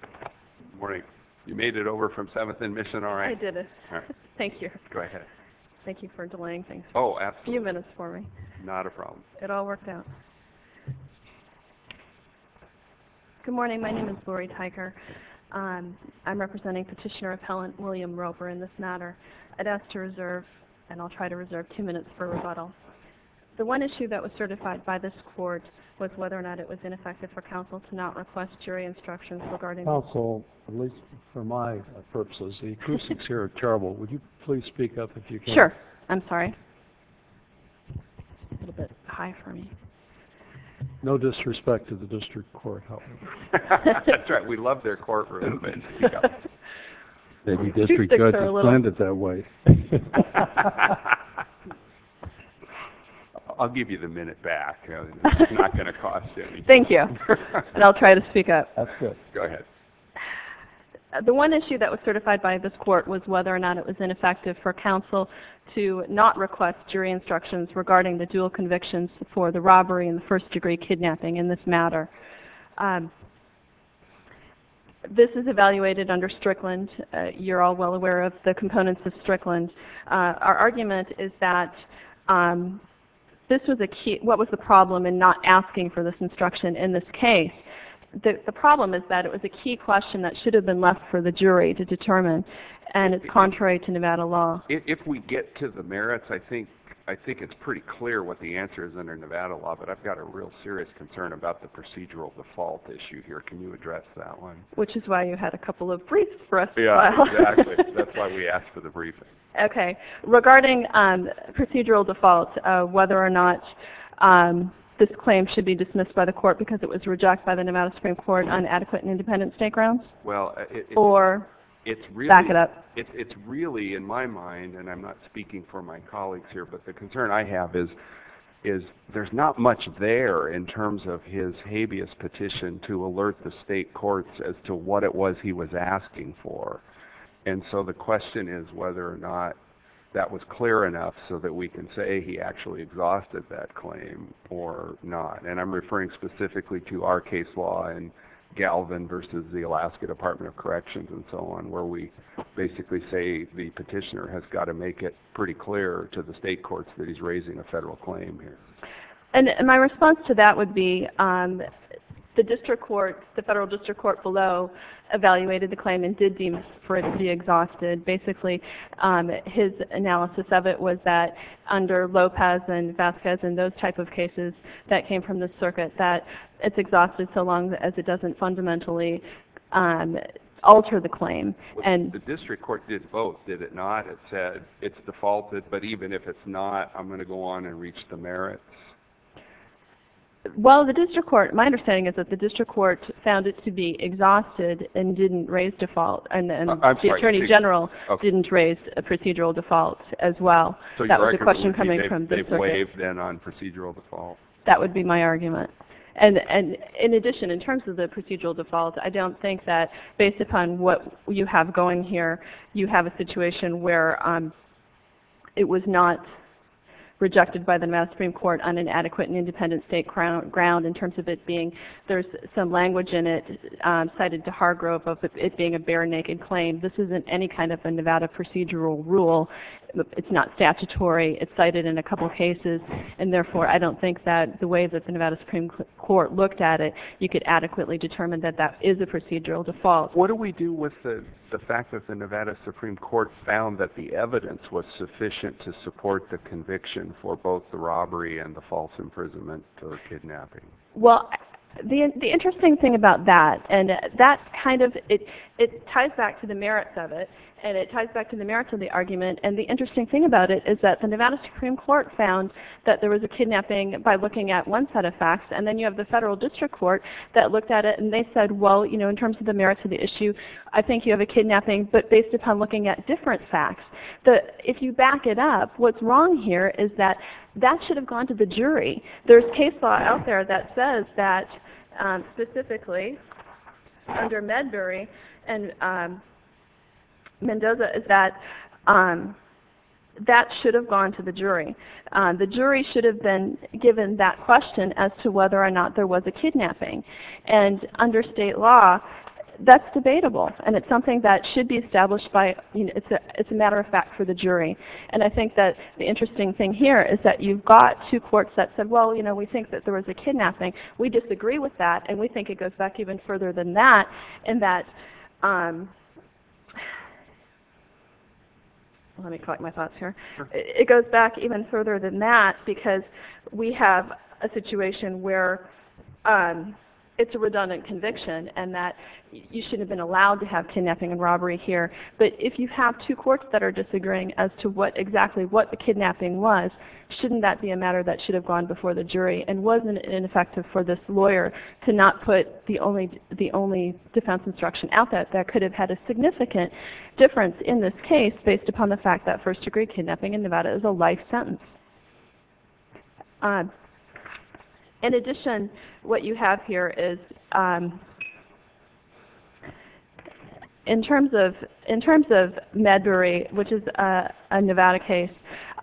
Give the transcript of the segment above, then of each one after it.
Good morning. You made it over from 7th and Mission, all right. I did it. Thank you. Go ahead. Thank you for delaying things. Oh, absolutely. A few minutes for me. Not a problem. It all worked out. Good morning. My name is Lori Tyger. I'm representing Petitioner Appellant William Roper in this matter. I'd ask to reserve, and I'll try to reserve two minutes for rebuttal. The one issue that was certified by this court was whether or not it was ineffective for counsel to not request jury instructions regarding Counsel, at least for my purposes, the acoustics here are terrible. Would you please speak up if you can? Sure. I'm sorry. A little bit high for me. No disrespect to the district court. That's right. We love their courtroom. Maybe district judges planned it that way. I'll give you the minute back. It's not going to cost anything. Thank you. And I'll try to speak up. That's good. Go ahead. The one issue that was certified by this court was whether or not it was ineffective for counsel to not request jury instructions regarding the dual convictions for the robbery and the first degree kidnapping in this matter. This is evaluated under Strickland. You're all well aware of the components of Strickland. Our argument is that what was the problem in not asking for this instruction in this case? The problem is that it was a key question that should have been left for the jury to determine, and it's contrary to Nevada law. If we get to the merits, I think it's pretty clear what the answer is under Nevada law, but I've got a real serious concern about the procedural default issue here. Can you address that one? Which is why you had a couple of briefs for us as well. Exactly. That's why we asked for the briefing. Okay. Regarding procedural default, whether or not this claim should be dismissed by the court because it was rejected by the Nevada Supreme Court on adequate and independent state grounds? Well, it's really in my mind, and I'm not speaking for my colleagues here, but the concern I have is there's not much there in terms of his habeas petition to alert the state courts as to what it was he was asking for. And so the question is whether or not that was clear enough so that we can say he actually exhausted that claim or not. And I'm referring specifically to our case law in Galvin versus the Alaska Department of Corrections and so on, where we basically say the petitioner has got to make it pretty clear to the state courts that he's raising a federal claim here. And my response to that would be the district court, the federal district court below, evaluated the claim and did deem for it to be exhausted. Basically, his analysis of it was that under Lopez and Vasquez and those type of cases that came from the circuit, that it's exhausted so long as it doesn't fundamentally alter the claim. The district court did vote, did it not? It said it's defaulted, but even if it's not, I'm going to go on and reach the merits? Well, my understanding is that the district court found it to be exhausted and didn't raise default, and the attorney general didn't raise a procedural default as well. So your argument would be they've waived then on procedural default? That would be my argument. In addition, in terms of the procedural default, I don't think that based upon what you have going here, you have a situation where it was not rejected by the Nevada Supreme Court on an adequate and independent state ground in terms of it being there's some language in it cited to Hargrove of it being a bare naked claim. This isn't any kind of a Nevada procedural rule. It's not statutory. It's cited in a couple cases, and therefore I don't think that the way that the Nevada Supreme Court looked at it, you could adequately determine that that is a procedural default. What do we do with the fact that the Nevada Supreme Court found that the evidence was sufficient to support the conviction for both the robbery and the false imprisonment or kidnapping? Well, the interesting thing about that, and that kind of ties back to the merits of it, and it ties back to the merits of the argument, and the interesting thing about it is that the Nevada Supreme Court found that there was a kidnapping by looking at one set of facts, and then you have the federal district court that looked at it, and they said, well, you know, in terms of the merits of the issue, I think you have a kidnapping, but based upon looking at different facts. If you back it up, what's wrong here is that that should have gone to the jury. There's case law out there that says that, specifically, under Medbury and Mendoza, is that that should have gone to the jury. The jury should have been given that question as to whether or not there was a kidnapping, and under state law, that's debatable, and it's something that should be established by, it's a matter of fact for the jury, and I think that the interesting thing here is that you've got two courts that said, well, you know, we think that there was a kidnapping. We disagree with that, and we think it goes back even further than that, and that, let me collect my thoughts here. It goes back even further than that because we have a situation where it's a redundant conviction, and that you should have been allowed to have kidnapping and robbery here, but if you have two courts that are disagreeing as to exactly what the kidnapping was, shouldn't that be a matter that should have gone before the jury, and wasn't it ineffective for this lawyer to not put the only defense instruction out there that could have had a significant difference in this case based upon the fact that first-degree kidnapping in Nevada is a life sentence. In addition, what you have here is, in terms of Medbury, which is a Nevada case,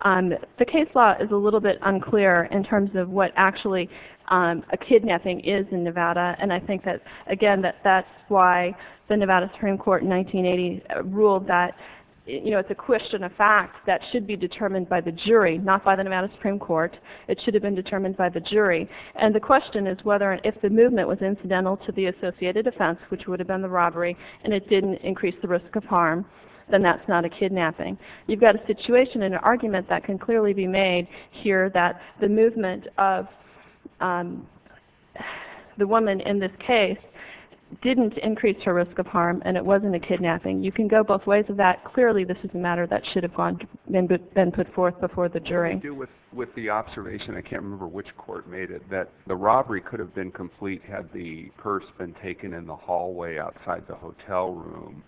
the case law is a little bit unclear in terms of what actually a kidnapping is in Nevada, and I think that, again, that that's why the Nevada Supreme Court in 1980 ruled that, you know, it's a question of fact that should be determined by the jury, not by the Nevada Supreme Court. It should have been determined by the jury, and the question is whether if the movement was incidental to the associated offense, which would have been the robbery, and it didn't increase the risk of harm, then that's not a kidnapping. You've got a situation and an argument that can clearly be made here that the movement of the woman in this case didn't increase her risk of harm, and it wasn't a kidnapping. You can go both ways of that. Clearly, this is a matter that should have been put forth before the jury. I do with the observation, I can't remember which court made it, that the robbery could have been complete had the purse been taken in the hallway outside the hotel room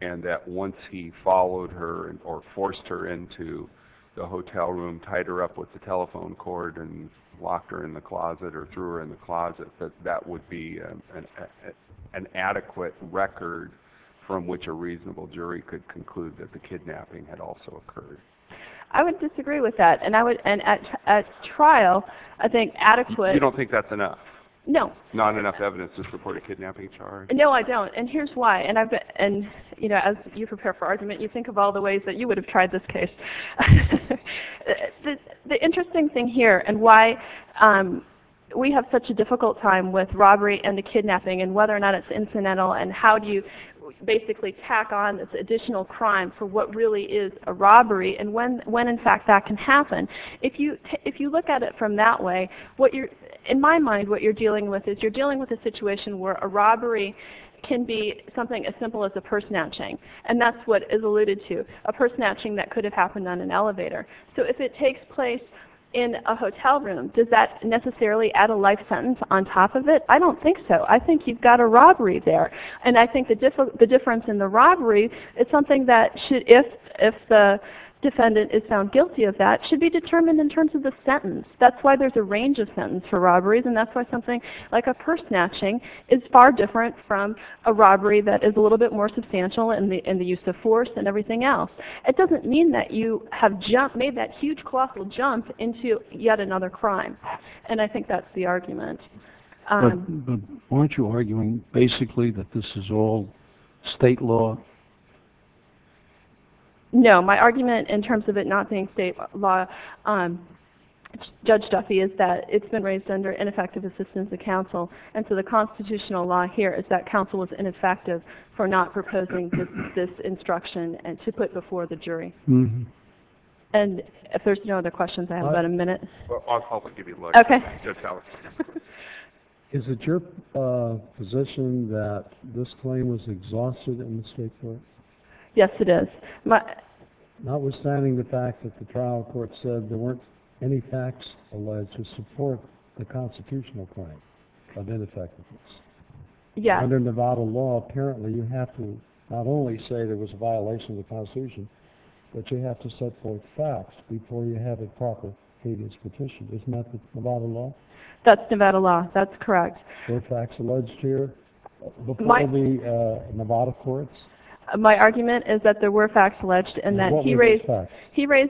and that once he followed her or forced her into the hotel room, tied her up with the telephone cord and locked her in the closet or threw her in the closet, that that would be an adequate record from which a reasonable jury could conclude that the kidnapping had also occurred. I would disagree with that, and at trial, I think adequate... You don't think that's enough? No. Not enough evidence to support a kidnapping charge? No, I don't, and here's why, and as you prepare for argument, you think of all the ways that you would have tried this case. The interesting thing here and why we have such a difficult time with robbery and the kidnapping and whether or not it's incidental and how do you basically tack on this additional crime for what really is a robbery and when, in fact, that can happen. If you look at it from that way, in my mind, what you're dealing with is you're dealing with a situation where a robbery can be something as simple as a purse snatching, and that's what is alluded to, a purse snatching that could have happened on an elevator. So if it takes place in a hotel room, does that necessarily add a life sentence on top of it? I don't think so. I think you've got a robbery there, and I think the difference in the robbery is something that should, if the defendant is found guilty of that, should be determined in terms of the sentence. That's why there's a range of sentence for robberies, and that's why something like a purse snatching is far different from a robbery that is a little bit more substantial in the use of force and everything else. It doesn't mean that you have made that huge colossal jump into yet another crime, and I think that's the argument. But aren't you arguing basically that this is all state law? No, my argument in terms of it not being state law, Judge Duffy, is that it's been raised under ineffective assistance of counsel, and so the constitutional law here is that counsel is ineffective for not proposing this instruction to put before the jury. And if there's no other questions, I have about a minute. I'll give you a look. Okay. Is it your position that this claim was exhausted in the state court? Yes, it is. Notwithstanding the fact that the trial court said there weren't any facts alleged to support the constitutional claim of ineffectiveness, under Nevada law apparently you have to not only say there was a violation of the Constitution, but you have to set forth facts before you have a proper cadence petition. Isn't that the Nevada law? That's Nevada law. That's correct. Were facts alleged here before the Nevada courts? My argument is that there were facts alleged and that he raised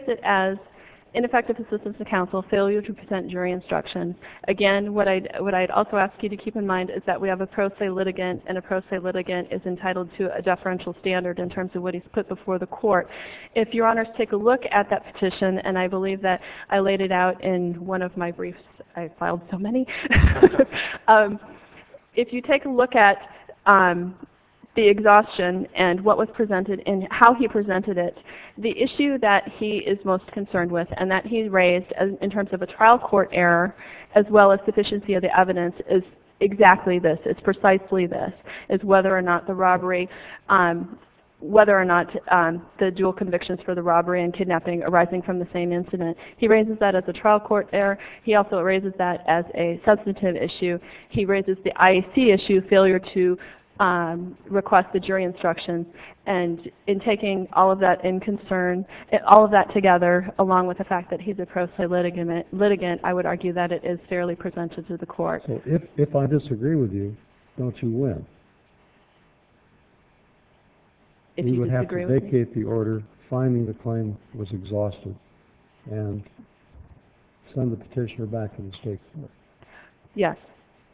it as ineffective assistance of counsel, failure to present jury instruction. Again, what I'd also ask you to keep in mind is that we have a pro se litigant, and a pro se litigant is entitled to a deferential standard in terms of what he's put before the court. If Your Honors take a look at that petition, and I believe that I laid it out in one of my briefs. I filed so many. If you take a look at the exhaustion and what was presented and how he presented it, the issue that he is most concerned with and that he raised in terms of a trial court error, as well as sufficiency of the evidence, is exactly this. It's precisely this. It's whether or not the robbery, whether or not the dual convictions for the robbery and kidnapping arising from the same incident. He raises that as a trial court error. He also raises that as a substantive issue. He raises the IEC issue, failure to request the jury instruction. And in taking all of that in concern, all of that together, along with the fact that he's a pro se litigant, I would argue that it is fairly presented to the court. So if I disagree with you, don't you win? If you disagree with me? Yes.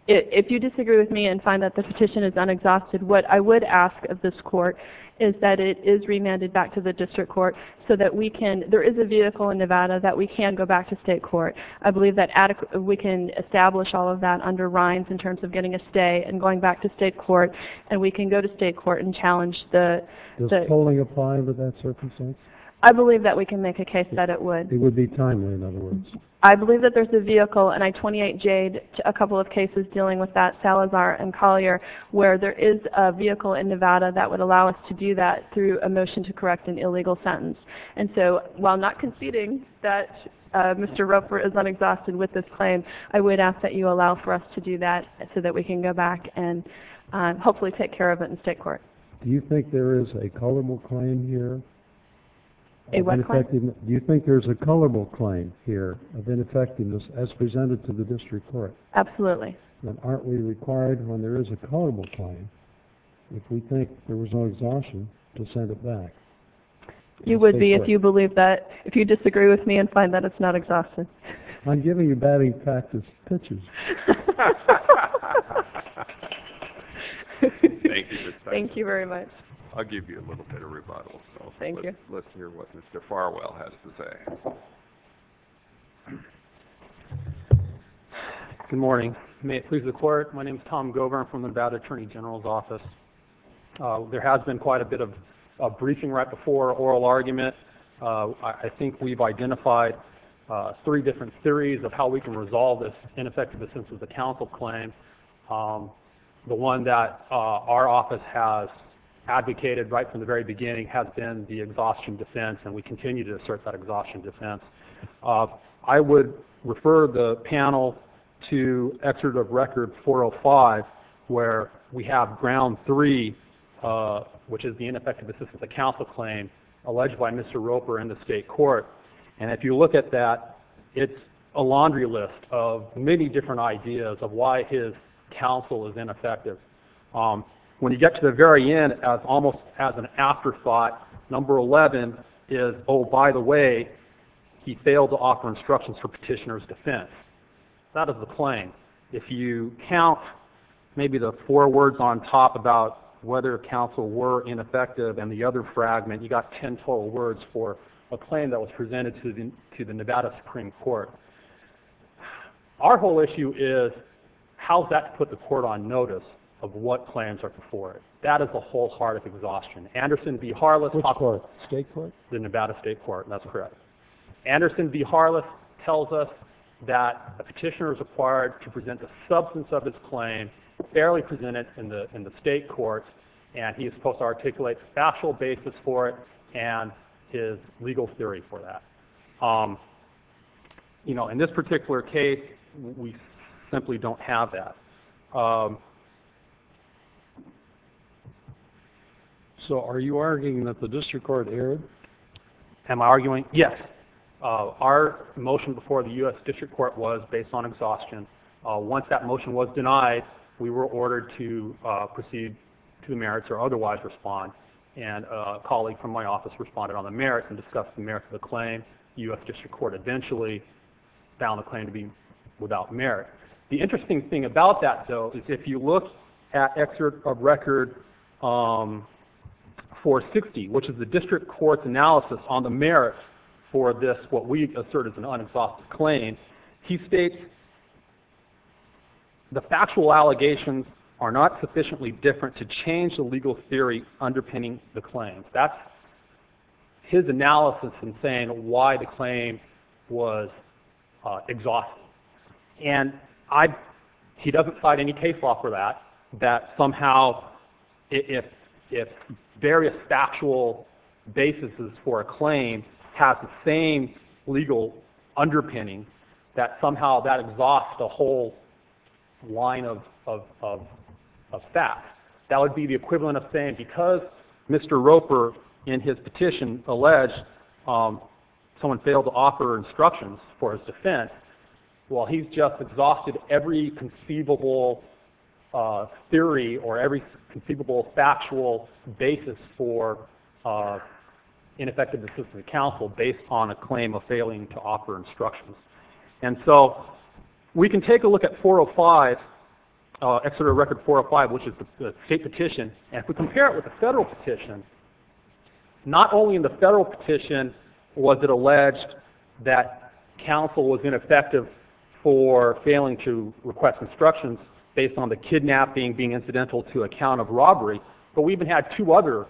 If you disagree with me and find that the petition is unexhausted, what I would ask of this court is that it is remanded back to the district court so that we can, there is a vehicle in Nevada that we can go back to state court. I believe that we can establish all of that under RINES in terms of getting a stay and going back to state court, and we can go to state court and challenge the Does polling apply under that circumstance? I believe that we can make a case that it would. It would be timely, in other words. I believe that there's a vehicle, and I 28J'd a couple of cases dealing with that, Salazar and Collier, where there is a vehicle in Nevada that would allow us to do that through a motion to correct an illegal sentence. And so while not conceding that Mr. Roper is unexhausted with this claim, I would ask that you allow for us to do that so that we can go back and hopefully take care of it in state court. Do you think there is a colorable claim here? A what claim? Do you think there's a colorable claim here of ineffectiveness as presented to the district court? Absolutely. Then aren't we required when there is a colorable claim, if we think there was no exhaustion, to send it back? You would be if you believe that, if you disagree with me and find that it's not exhaustion. I'm giving you batting practice pitches. Thank you. Thank you very much. I'll give you a little bit of rebuttal. Thank you. Let's hear what Mr. Farwell has to say. Good morning. May it please the clerk, my name is Tom Gover. I'm from the Nevada Attorney General's Office. There has been quite a bit of briefing right before oral argument. I think we've identified three different theories of how we can resolve this ineffective assistance of counsel claim. The one that our office has advocated right from the very beginning has been the exhaustion defense, and we continue to assert that exhaustion defense. I would refer the panel to excerpt of record 405, where we have ground three, which is the ineffective assistance of counsel claim, alleged by Mr. Roper in the state court. And if you look at that, it's a laundry list of many different ideas of why his counsel is ineffective. When you get to the very end, almost as an afterthought, number 11 is, oh, by the way, he failed to offer instructions for petitioner's defense. That is the claim. If you count maybe the four words on top about whether counsel were ineffective and the other fragment, you've got ten total words for a claim that was presented to the Nevada Supreme Court. Our whole issue is how is that to put the court on notice of what claims are before it? That is the whole heart of exhaustion. Anderson v. Harless. Which court? State court? The Nevada State Court. That's correct. Anderson v. Harless tells us that a petitioner is required to present the substance of his claim fairly presented in the state court, and he is supposed to articulate the factual basis for it and his legal theory for that. In this particular case, we simply don't have that. So are you arguing that the district court erred? Am I arguing? Yes. Our motion before the U.S. District Court was based on exhaustion. Once that motion was denied, we were ordered to proceed to the merits or otherwise respond. And a colleague from my office responded on the merits and discussed the merits of the claim. The U.S. District Court eventually found the claim to be without merit. The interesting thing about that, though, is if you look at Excerpt of Record 460, which is the district court's analysis on the merits for this, what we assert is an unenforced claim, He states that the factual allegations are not sufficiently different to change the legal theory underpinning the claim. That's his analysis in saying why the claim was exhausted. And he doesn't cite any case law for that, that somehow if various factual bases for a claim have the same legal underpinning, that somehow that exhausts the whole line of facts. That would be the equivalent of saying because Mr. Roper in his petition alleged someone failed to offer instructions for his defense, well, he's just exhausted every conceivable theory or every conceivable factual basis for ineffective assistance of counsel based on a claim of failing to offer instructions. And so we can take a look at 405, Excerpt of Record 405, which is the state petition, and if we compare it with the federal petition, not only in the federal petition was it alleged that counsel was ineffective for failing to request instructions based on the kidnapping being incidental to a count of robbery, but we even had two other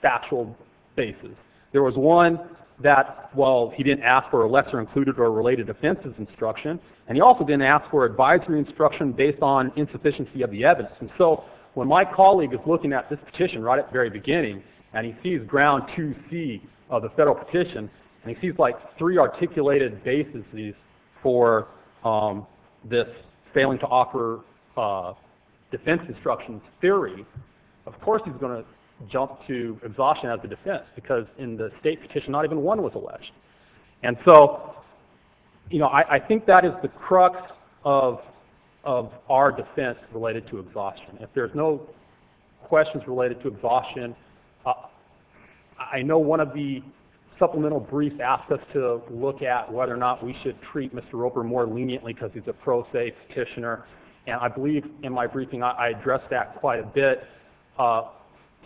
factual bases. There was one that, well, he didn't ask for a lesser included or related offenses instruction, and he also didn't ask for advisory instruction based on insufficiency of the evidence. And so when my colleague is looking at this petition right at the very beginning and he sees ground 2C of the federal petition and he sees like three articulated bases for this failing to offer defense instruction theory, of course he's going to jump to exhaustion as a defense because in the state petition not even one was alleged. And so I think that is the crux of our defense related to exhaustion. If there's no questions related to exhaustion, I know one of the supplemental briefs asked us to look at whether or not we should treat Mr. Roper more leniently because he's a pro se petitioner, and I believe in my briefing I addressed that quite a bit.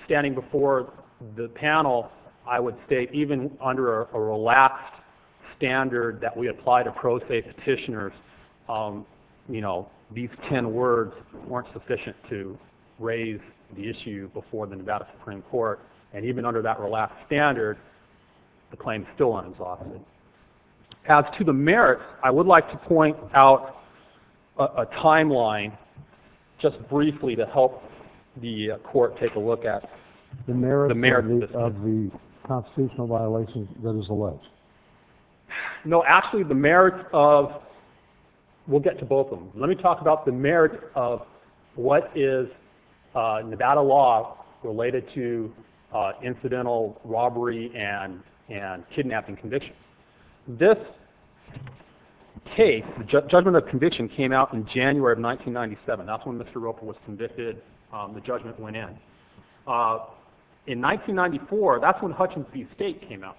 Standing before the panel, I would state even under a relaxed standard that we apply to pro se petitioners, you know, these ten words weren't sufficient to raise the issue before the Nevada Supreme Court, and even under that relaxed standard, the claim is still unexhausted. As to the merits, I would like to point out a timeline just briefly to help the court take a look at the merits of the constitutional violations that is alleged. No, actually the merits of, we'll get to both of them. Let me talk about the merits of what is Nevada law related to incidental robbery and kidnapping convictions. This case, the judgment of conviction, came out in January of 1997. That's when Mr. Roper was convicted, the judgment went in. In 1994, that's when Hutchins v. State came out.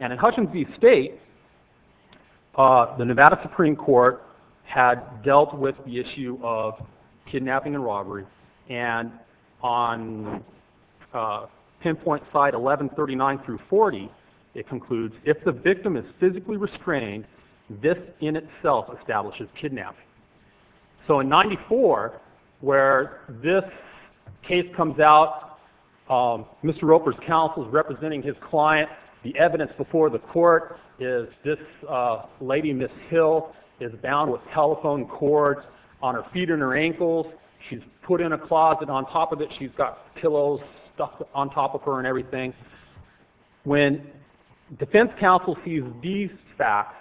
And in Hutchins v. State, the Nevada Supreme Court had dealt with the issue of kidnapping and robbery, and on pinpoint side 1139 through 40, it concludes, if the victim is physically restrained, this in itself establishes kidnapping. So in 94, where this case comes out, Mr. Roper's counsel is representing his client, the evidence before the court is this lady, Ms. Hill, is bound with telephone cords on her feet and her ankles, she's put in a closet on top of it, she's got pillows stuck on top of her and everything. When defense counsel sees these facts,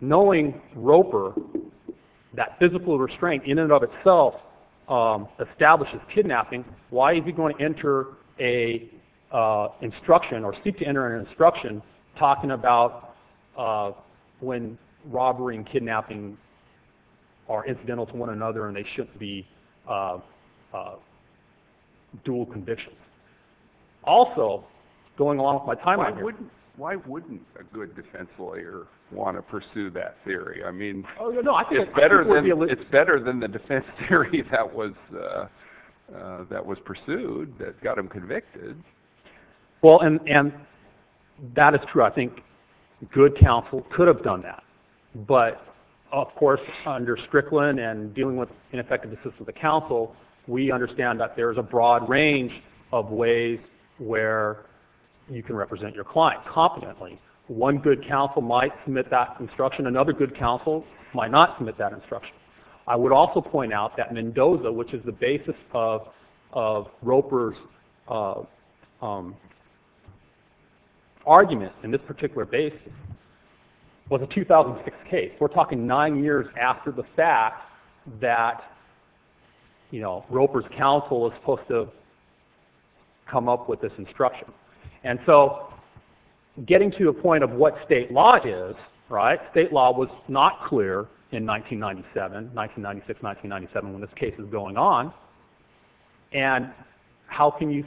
knowing Roper, that physical restraint in and of itself establishes kidnapping, why is he going to enter an instruction, or seek to enter an instruction, talking about when robbery and kidnapping are incidental to one another and they shouldn't be dual convictions. Also, going along with my timeline here- Why wouldn't a good defense lawyer want to pursue that theory? I mean, it's better than the defense theory that was pursued that got him convicted. Well, and that is true. I think good counsel could have done that. But, of course, under Strickland and dealing with ineffective assistance of counsel, we understand that there is a broad range of ways where you can represent your client competently. One good counsel might submit that instruction, another good counsel might not submit that instruction. I would also point out that Mendoza, which is the basis of Roper's argument in this particular basis, was a 2006 case. We're talking nine years after the fact that Roper's counsel is supposed to come up with this instruction. And so, getting to a point of what state law is, state law was not clear in 1996-1997 when this case was going on, and how can you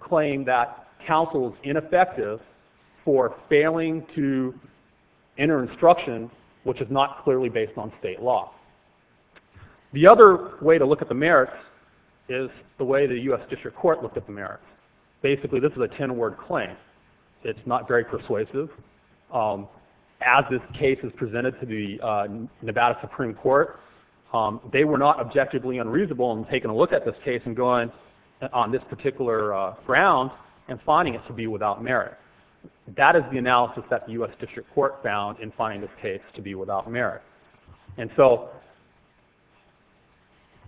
claim that counsel is ineffective for failing to enter instruction which is not clearly based on state law? The other way to look at the merits is the way the U.S. District Court looked at the merits. Basically, this is a ten-word claim. It's not very persuasive. As this case is presented to the Nevada Supreme Court, they were not objectively unreasonable in taking a look at this case and going on this particular ground and finding it to be without merit. That is the analysis that the U.S. District Court found in finding this case to be without merit. And so,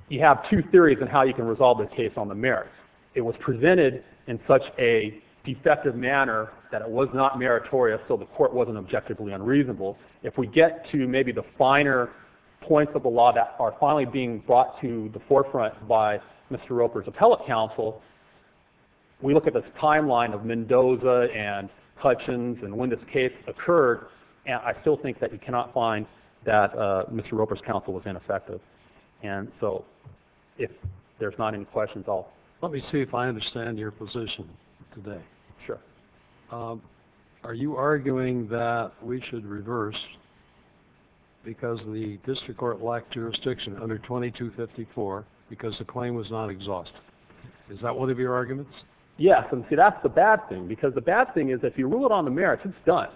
you have two theories on how you can resolve this case on the merits. It was presented in such a defective manner that it was not meritorious, so the court wasn't objectively unreasonable. If we get to maybe the finer points of the law that are finally being brought to the forefront by Mr. Roper's appellate counsel, we look at this timeline of Mendoza and Hutchins and when this case occurred, and I still think that you cannot find that Mr. Roper's counsel was ineffective. And so, if there's not any questions, I'll... Let me see if I understand your position today. Sure. Are you arguing that we should reverse because the District Court lacked jurisdiction under 2254 because the claim was not exhaustive? Is that one of your arguments? Yes, and see, that's the bad thing, because the bad thing is if you rule it on the merits, it's done.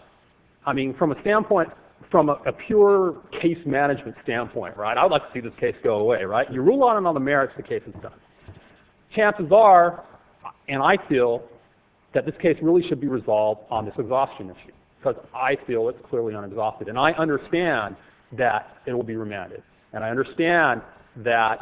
I mean, from a standpoint, from a pure case management standpoint, right, I'd like to see this case go away, right? You rule on it on the merits, the case is done. Chances are, and I feel, that this case really should be resolved on this exhaustion issue, because I feel it's clearly not exhaustive, and I understand that it will be remanded, and I understand that,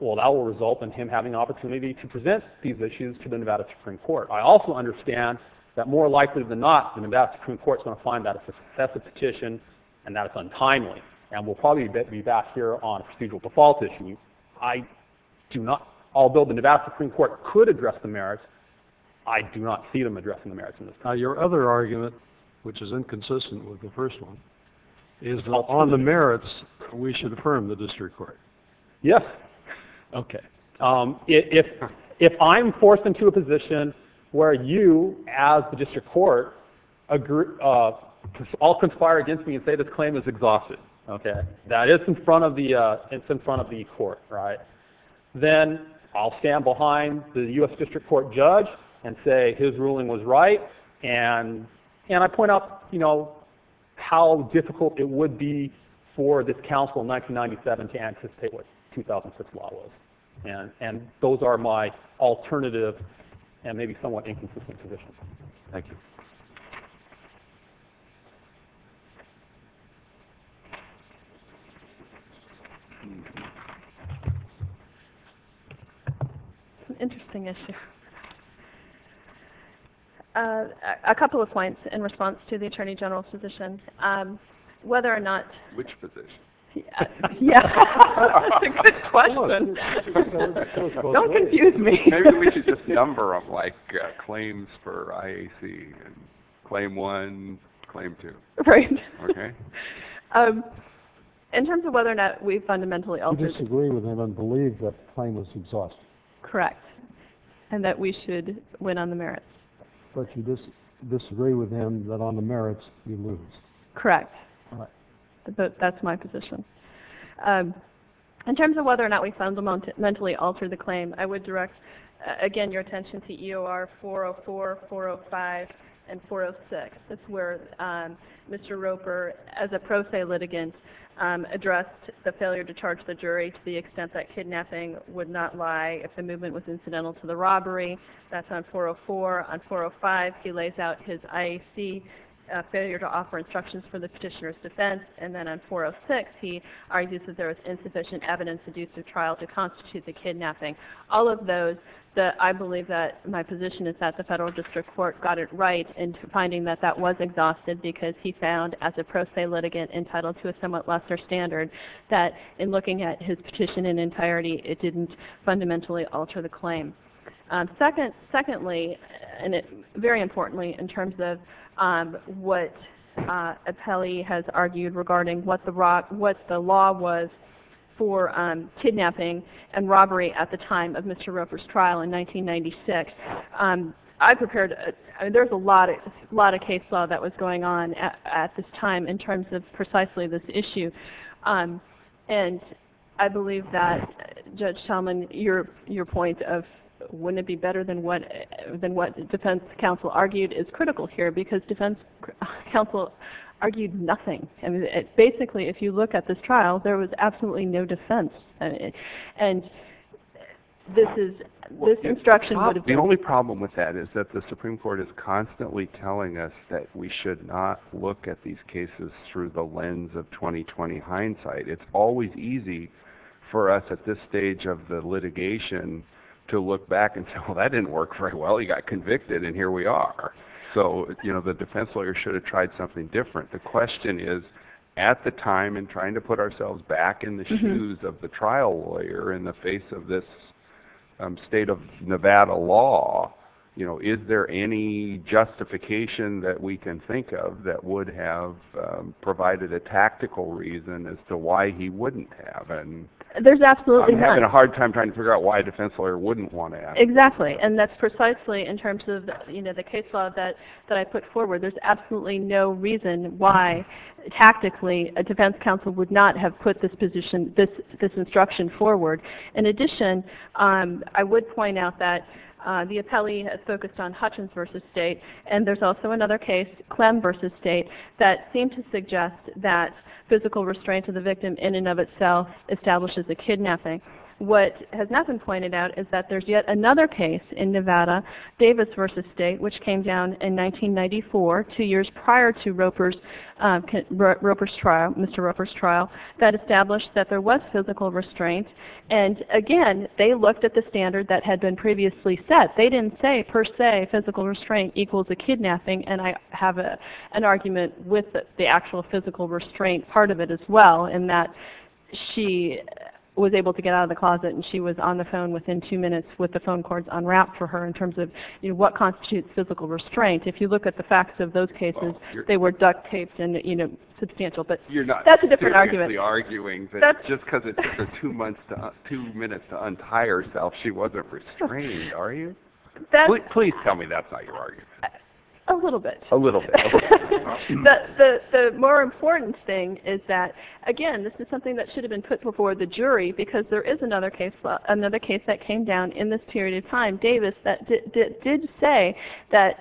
well, that will result in him having an opportunity to present these issues to the Nevada Supreme Court. I also understand that more likely than not, the Nevada Supreme Court is going to find that it's a successive petition and that it's untimely. And we'll probably be back here on procedural default issues. I do not... Although the Nevada Supreme Court could address the merits, I do not see them addressing the merits in this case. Now, your other argument, which is inconsistent with the first one, is that on the merits, we should affirm the District Court. Yes. Okay. If I'm forced into a position where you, as the District Court, all conspire against me and say this claim is exhaustive, okay, that is in front of the court, right, then I'll stand behind the U.S. District Court judge and say his ruling was right, and I point out, you know, how difficult it would be for this council in 1997 to anticipate what 2006 law was. And those are my alternative and maybe somewhat inconsistent positions. Thank you. It's an interesting issue. A couple of points in response to the Attorney General's position. Whether or not... Which position? Yeah. That's a good question. Don't confuse me. Maybe we should just number them, like claims for IAC and claim one, claim two. Right. Okay? In terms of whether or not we fundamentally alter... You disagree with him and believe that the claim was exhaustive. Correct. And that we should win on the merits. But you disagree with him that on the merits, you lose. Correct. But that's my position. In terms of whether or not we fundamentally alter the claim, I would direct, again, your attention to EOR 404, 405, and 406. That's where Mr. Roper, as a pro se litigant, addressed the failure to charge the jury to the extent that kidnapping would not lie if the movement was incidental to the robbery. That's on 404. On 405, he lays out his IAC failure to offer instructions for the petitioner's defense. And then on 406, he argues that there was insufficient evidence to do through trial to constitute the kidnapping. All of those, I believe that my position is that the federal district court got it right in finding that that was exhaustive because he found, as a pro se litigant entitled to a somewhat lesser standard, that in looking at his petition in entirety, it didn't fundamentally alter the claim. Secondly, and very importantly in terms of what Appelli has argued regarding what the law was for kidnapping and robbery at the time of Mr. Roper's trial in 1996, there's a lot of case law that was going on at this time in terms of precisely this issue. And I believe that, Judge Talman, your point of wouldn't it be better than what defense counsel argued is critical here because defense counsel argued nothing. Basically, if you look at this trial, there was absolutely no defense. The only problem with that is that the Supreme Court is constantly telling us that we should not look at these cases through the lens of 2020 hindsight. It's always easy for us at this stage of the litigation to look back and say, well, that didn't work very well. He got convicted and here we are. So, you know, the defense lawyer should have tried something different. The question is, at the time in trying to put ourselves back in the shoes of the trial lawyer in the face of this state of Nevada law, you know, is there any justification that we can think of that would have provided a tactical reason as to why he wouldn't have. And I'm having a hard time trying to figure out why a defense lawyer wouldn't want to have. Exactly. And that's precisely in terms of, you know, the case law that I put forward. There's absolutely no reason why tactically a defense counsel would not have put this position, this instruction forward. In addition, I would point out that the appellee has focused on Hutchins v. State and there's also another case, Clem v. State, that seemed to suggest that physical restraint of the victim in and of itself establishes a kidnapping. What has not been pointed out is that there's yet another case in Nevada, Davis v. State, which came down in 1994, two years prior to Roper's trial, Mr. Roper's trial, that established that there was physical restraint. And, again, they looked at the standard that had been previously set. They didn't say, per se, physical restraint equals a kidnapping, and I have an argument with the actual physical restraint part of it as well, in that she was able to get out of the closet and she was on the phone within two minutes with the phone cords unwrapped for her in terms of, you know, what constitutes physical restraint. If you look at the facts of those cases, they were duct taped and, you know, substantial. But that's a different argument. You're not seriously arguing that just because it took her two minutes to untie herself she wasn't restrained, are you? Please tell me that's not your argument. A little bit. A little bit. But the more important thing is that, again, this is something that should have been put before the jury because there is another case that came down in this period of time, Davis, that did say that,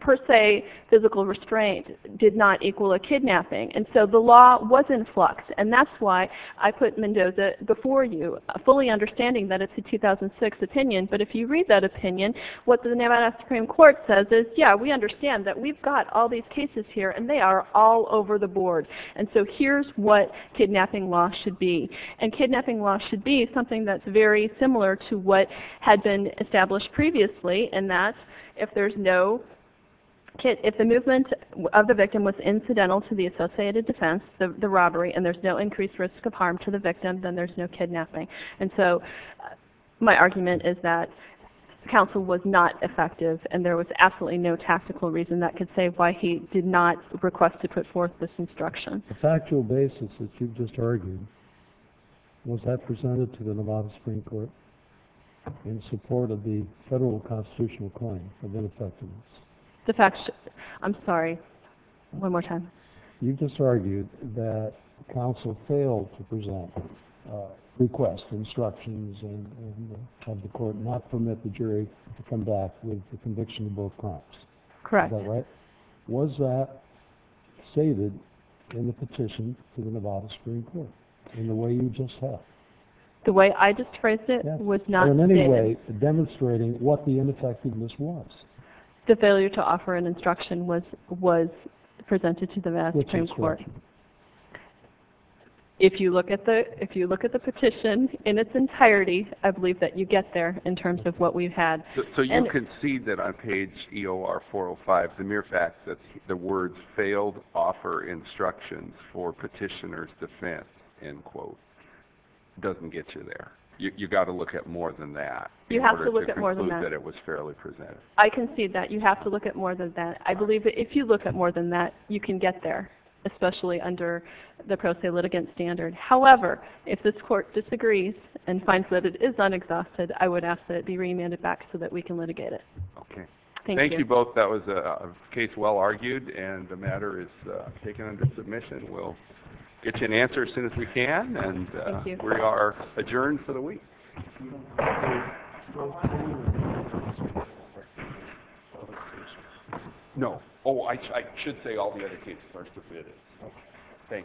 per se, physical restraint did not equal a kidnapping. And so the law was in flux, and that's why I put Mendoza before you, fully understanding that it's a 2006 opinion. But if you read that opinion, what the Nevada Supreme Court says is, yeah, we understand that we've got all these cases here, and they are all over the board. And so here's what kidnapping law should be. And kidnapping law should be something that's very similar to what had been established previously, in that if the movement of the victim was incidental to the associated defense, the robbery, and there's no increased risk of harm to the victim, then there's no kidnapping. And so my argument is that counsel was not effective, and there was absolutely no tactical reason that could say why he did not request to put forth this instruction. The factual basis that you just argued, was that presented to the Nevada Supreme Court in support of the federal constitutional claim of ineffectiveness? I'm sorry. One more time. You just argued that counsel failed to present requests, instructions, and have the court not permit the jury to come back with the conviction of both crimes. Correct. Was that stated in the petition to the Nevada Supreme Court, in the way you just said? The way I just phrased it was not stated. In any way, demonstrating what the ineffectiveness was. The failure to offer an instruction was presented to the Nevada Supreme Court. If you look at the petition in its entirety, I believe that you get there in terms of what we've had. So you concede that on page EOR405, the mere fact that the words failed to offer instructions for petitioner's defense, end quote, doesn't get you there. You've got to look at more than that in order to conclude that it was fairly presented. I concede that. You have to look at more than that. I believe that if you look at more than that, you can get there, especially under the pro se litigant standard. However, if this court disagrees and finds that it is unexhausted, I would ask that it be remanded back so that we can litigate it. Thank you both. That was a case well argued, and the matter is taken under submission. We'll get you an answer as soon as we can, and we are adjourned for the week. No. Oh, I should say all the other cases are submitted. Thank you.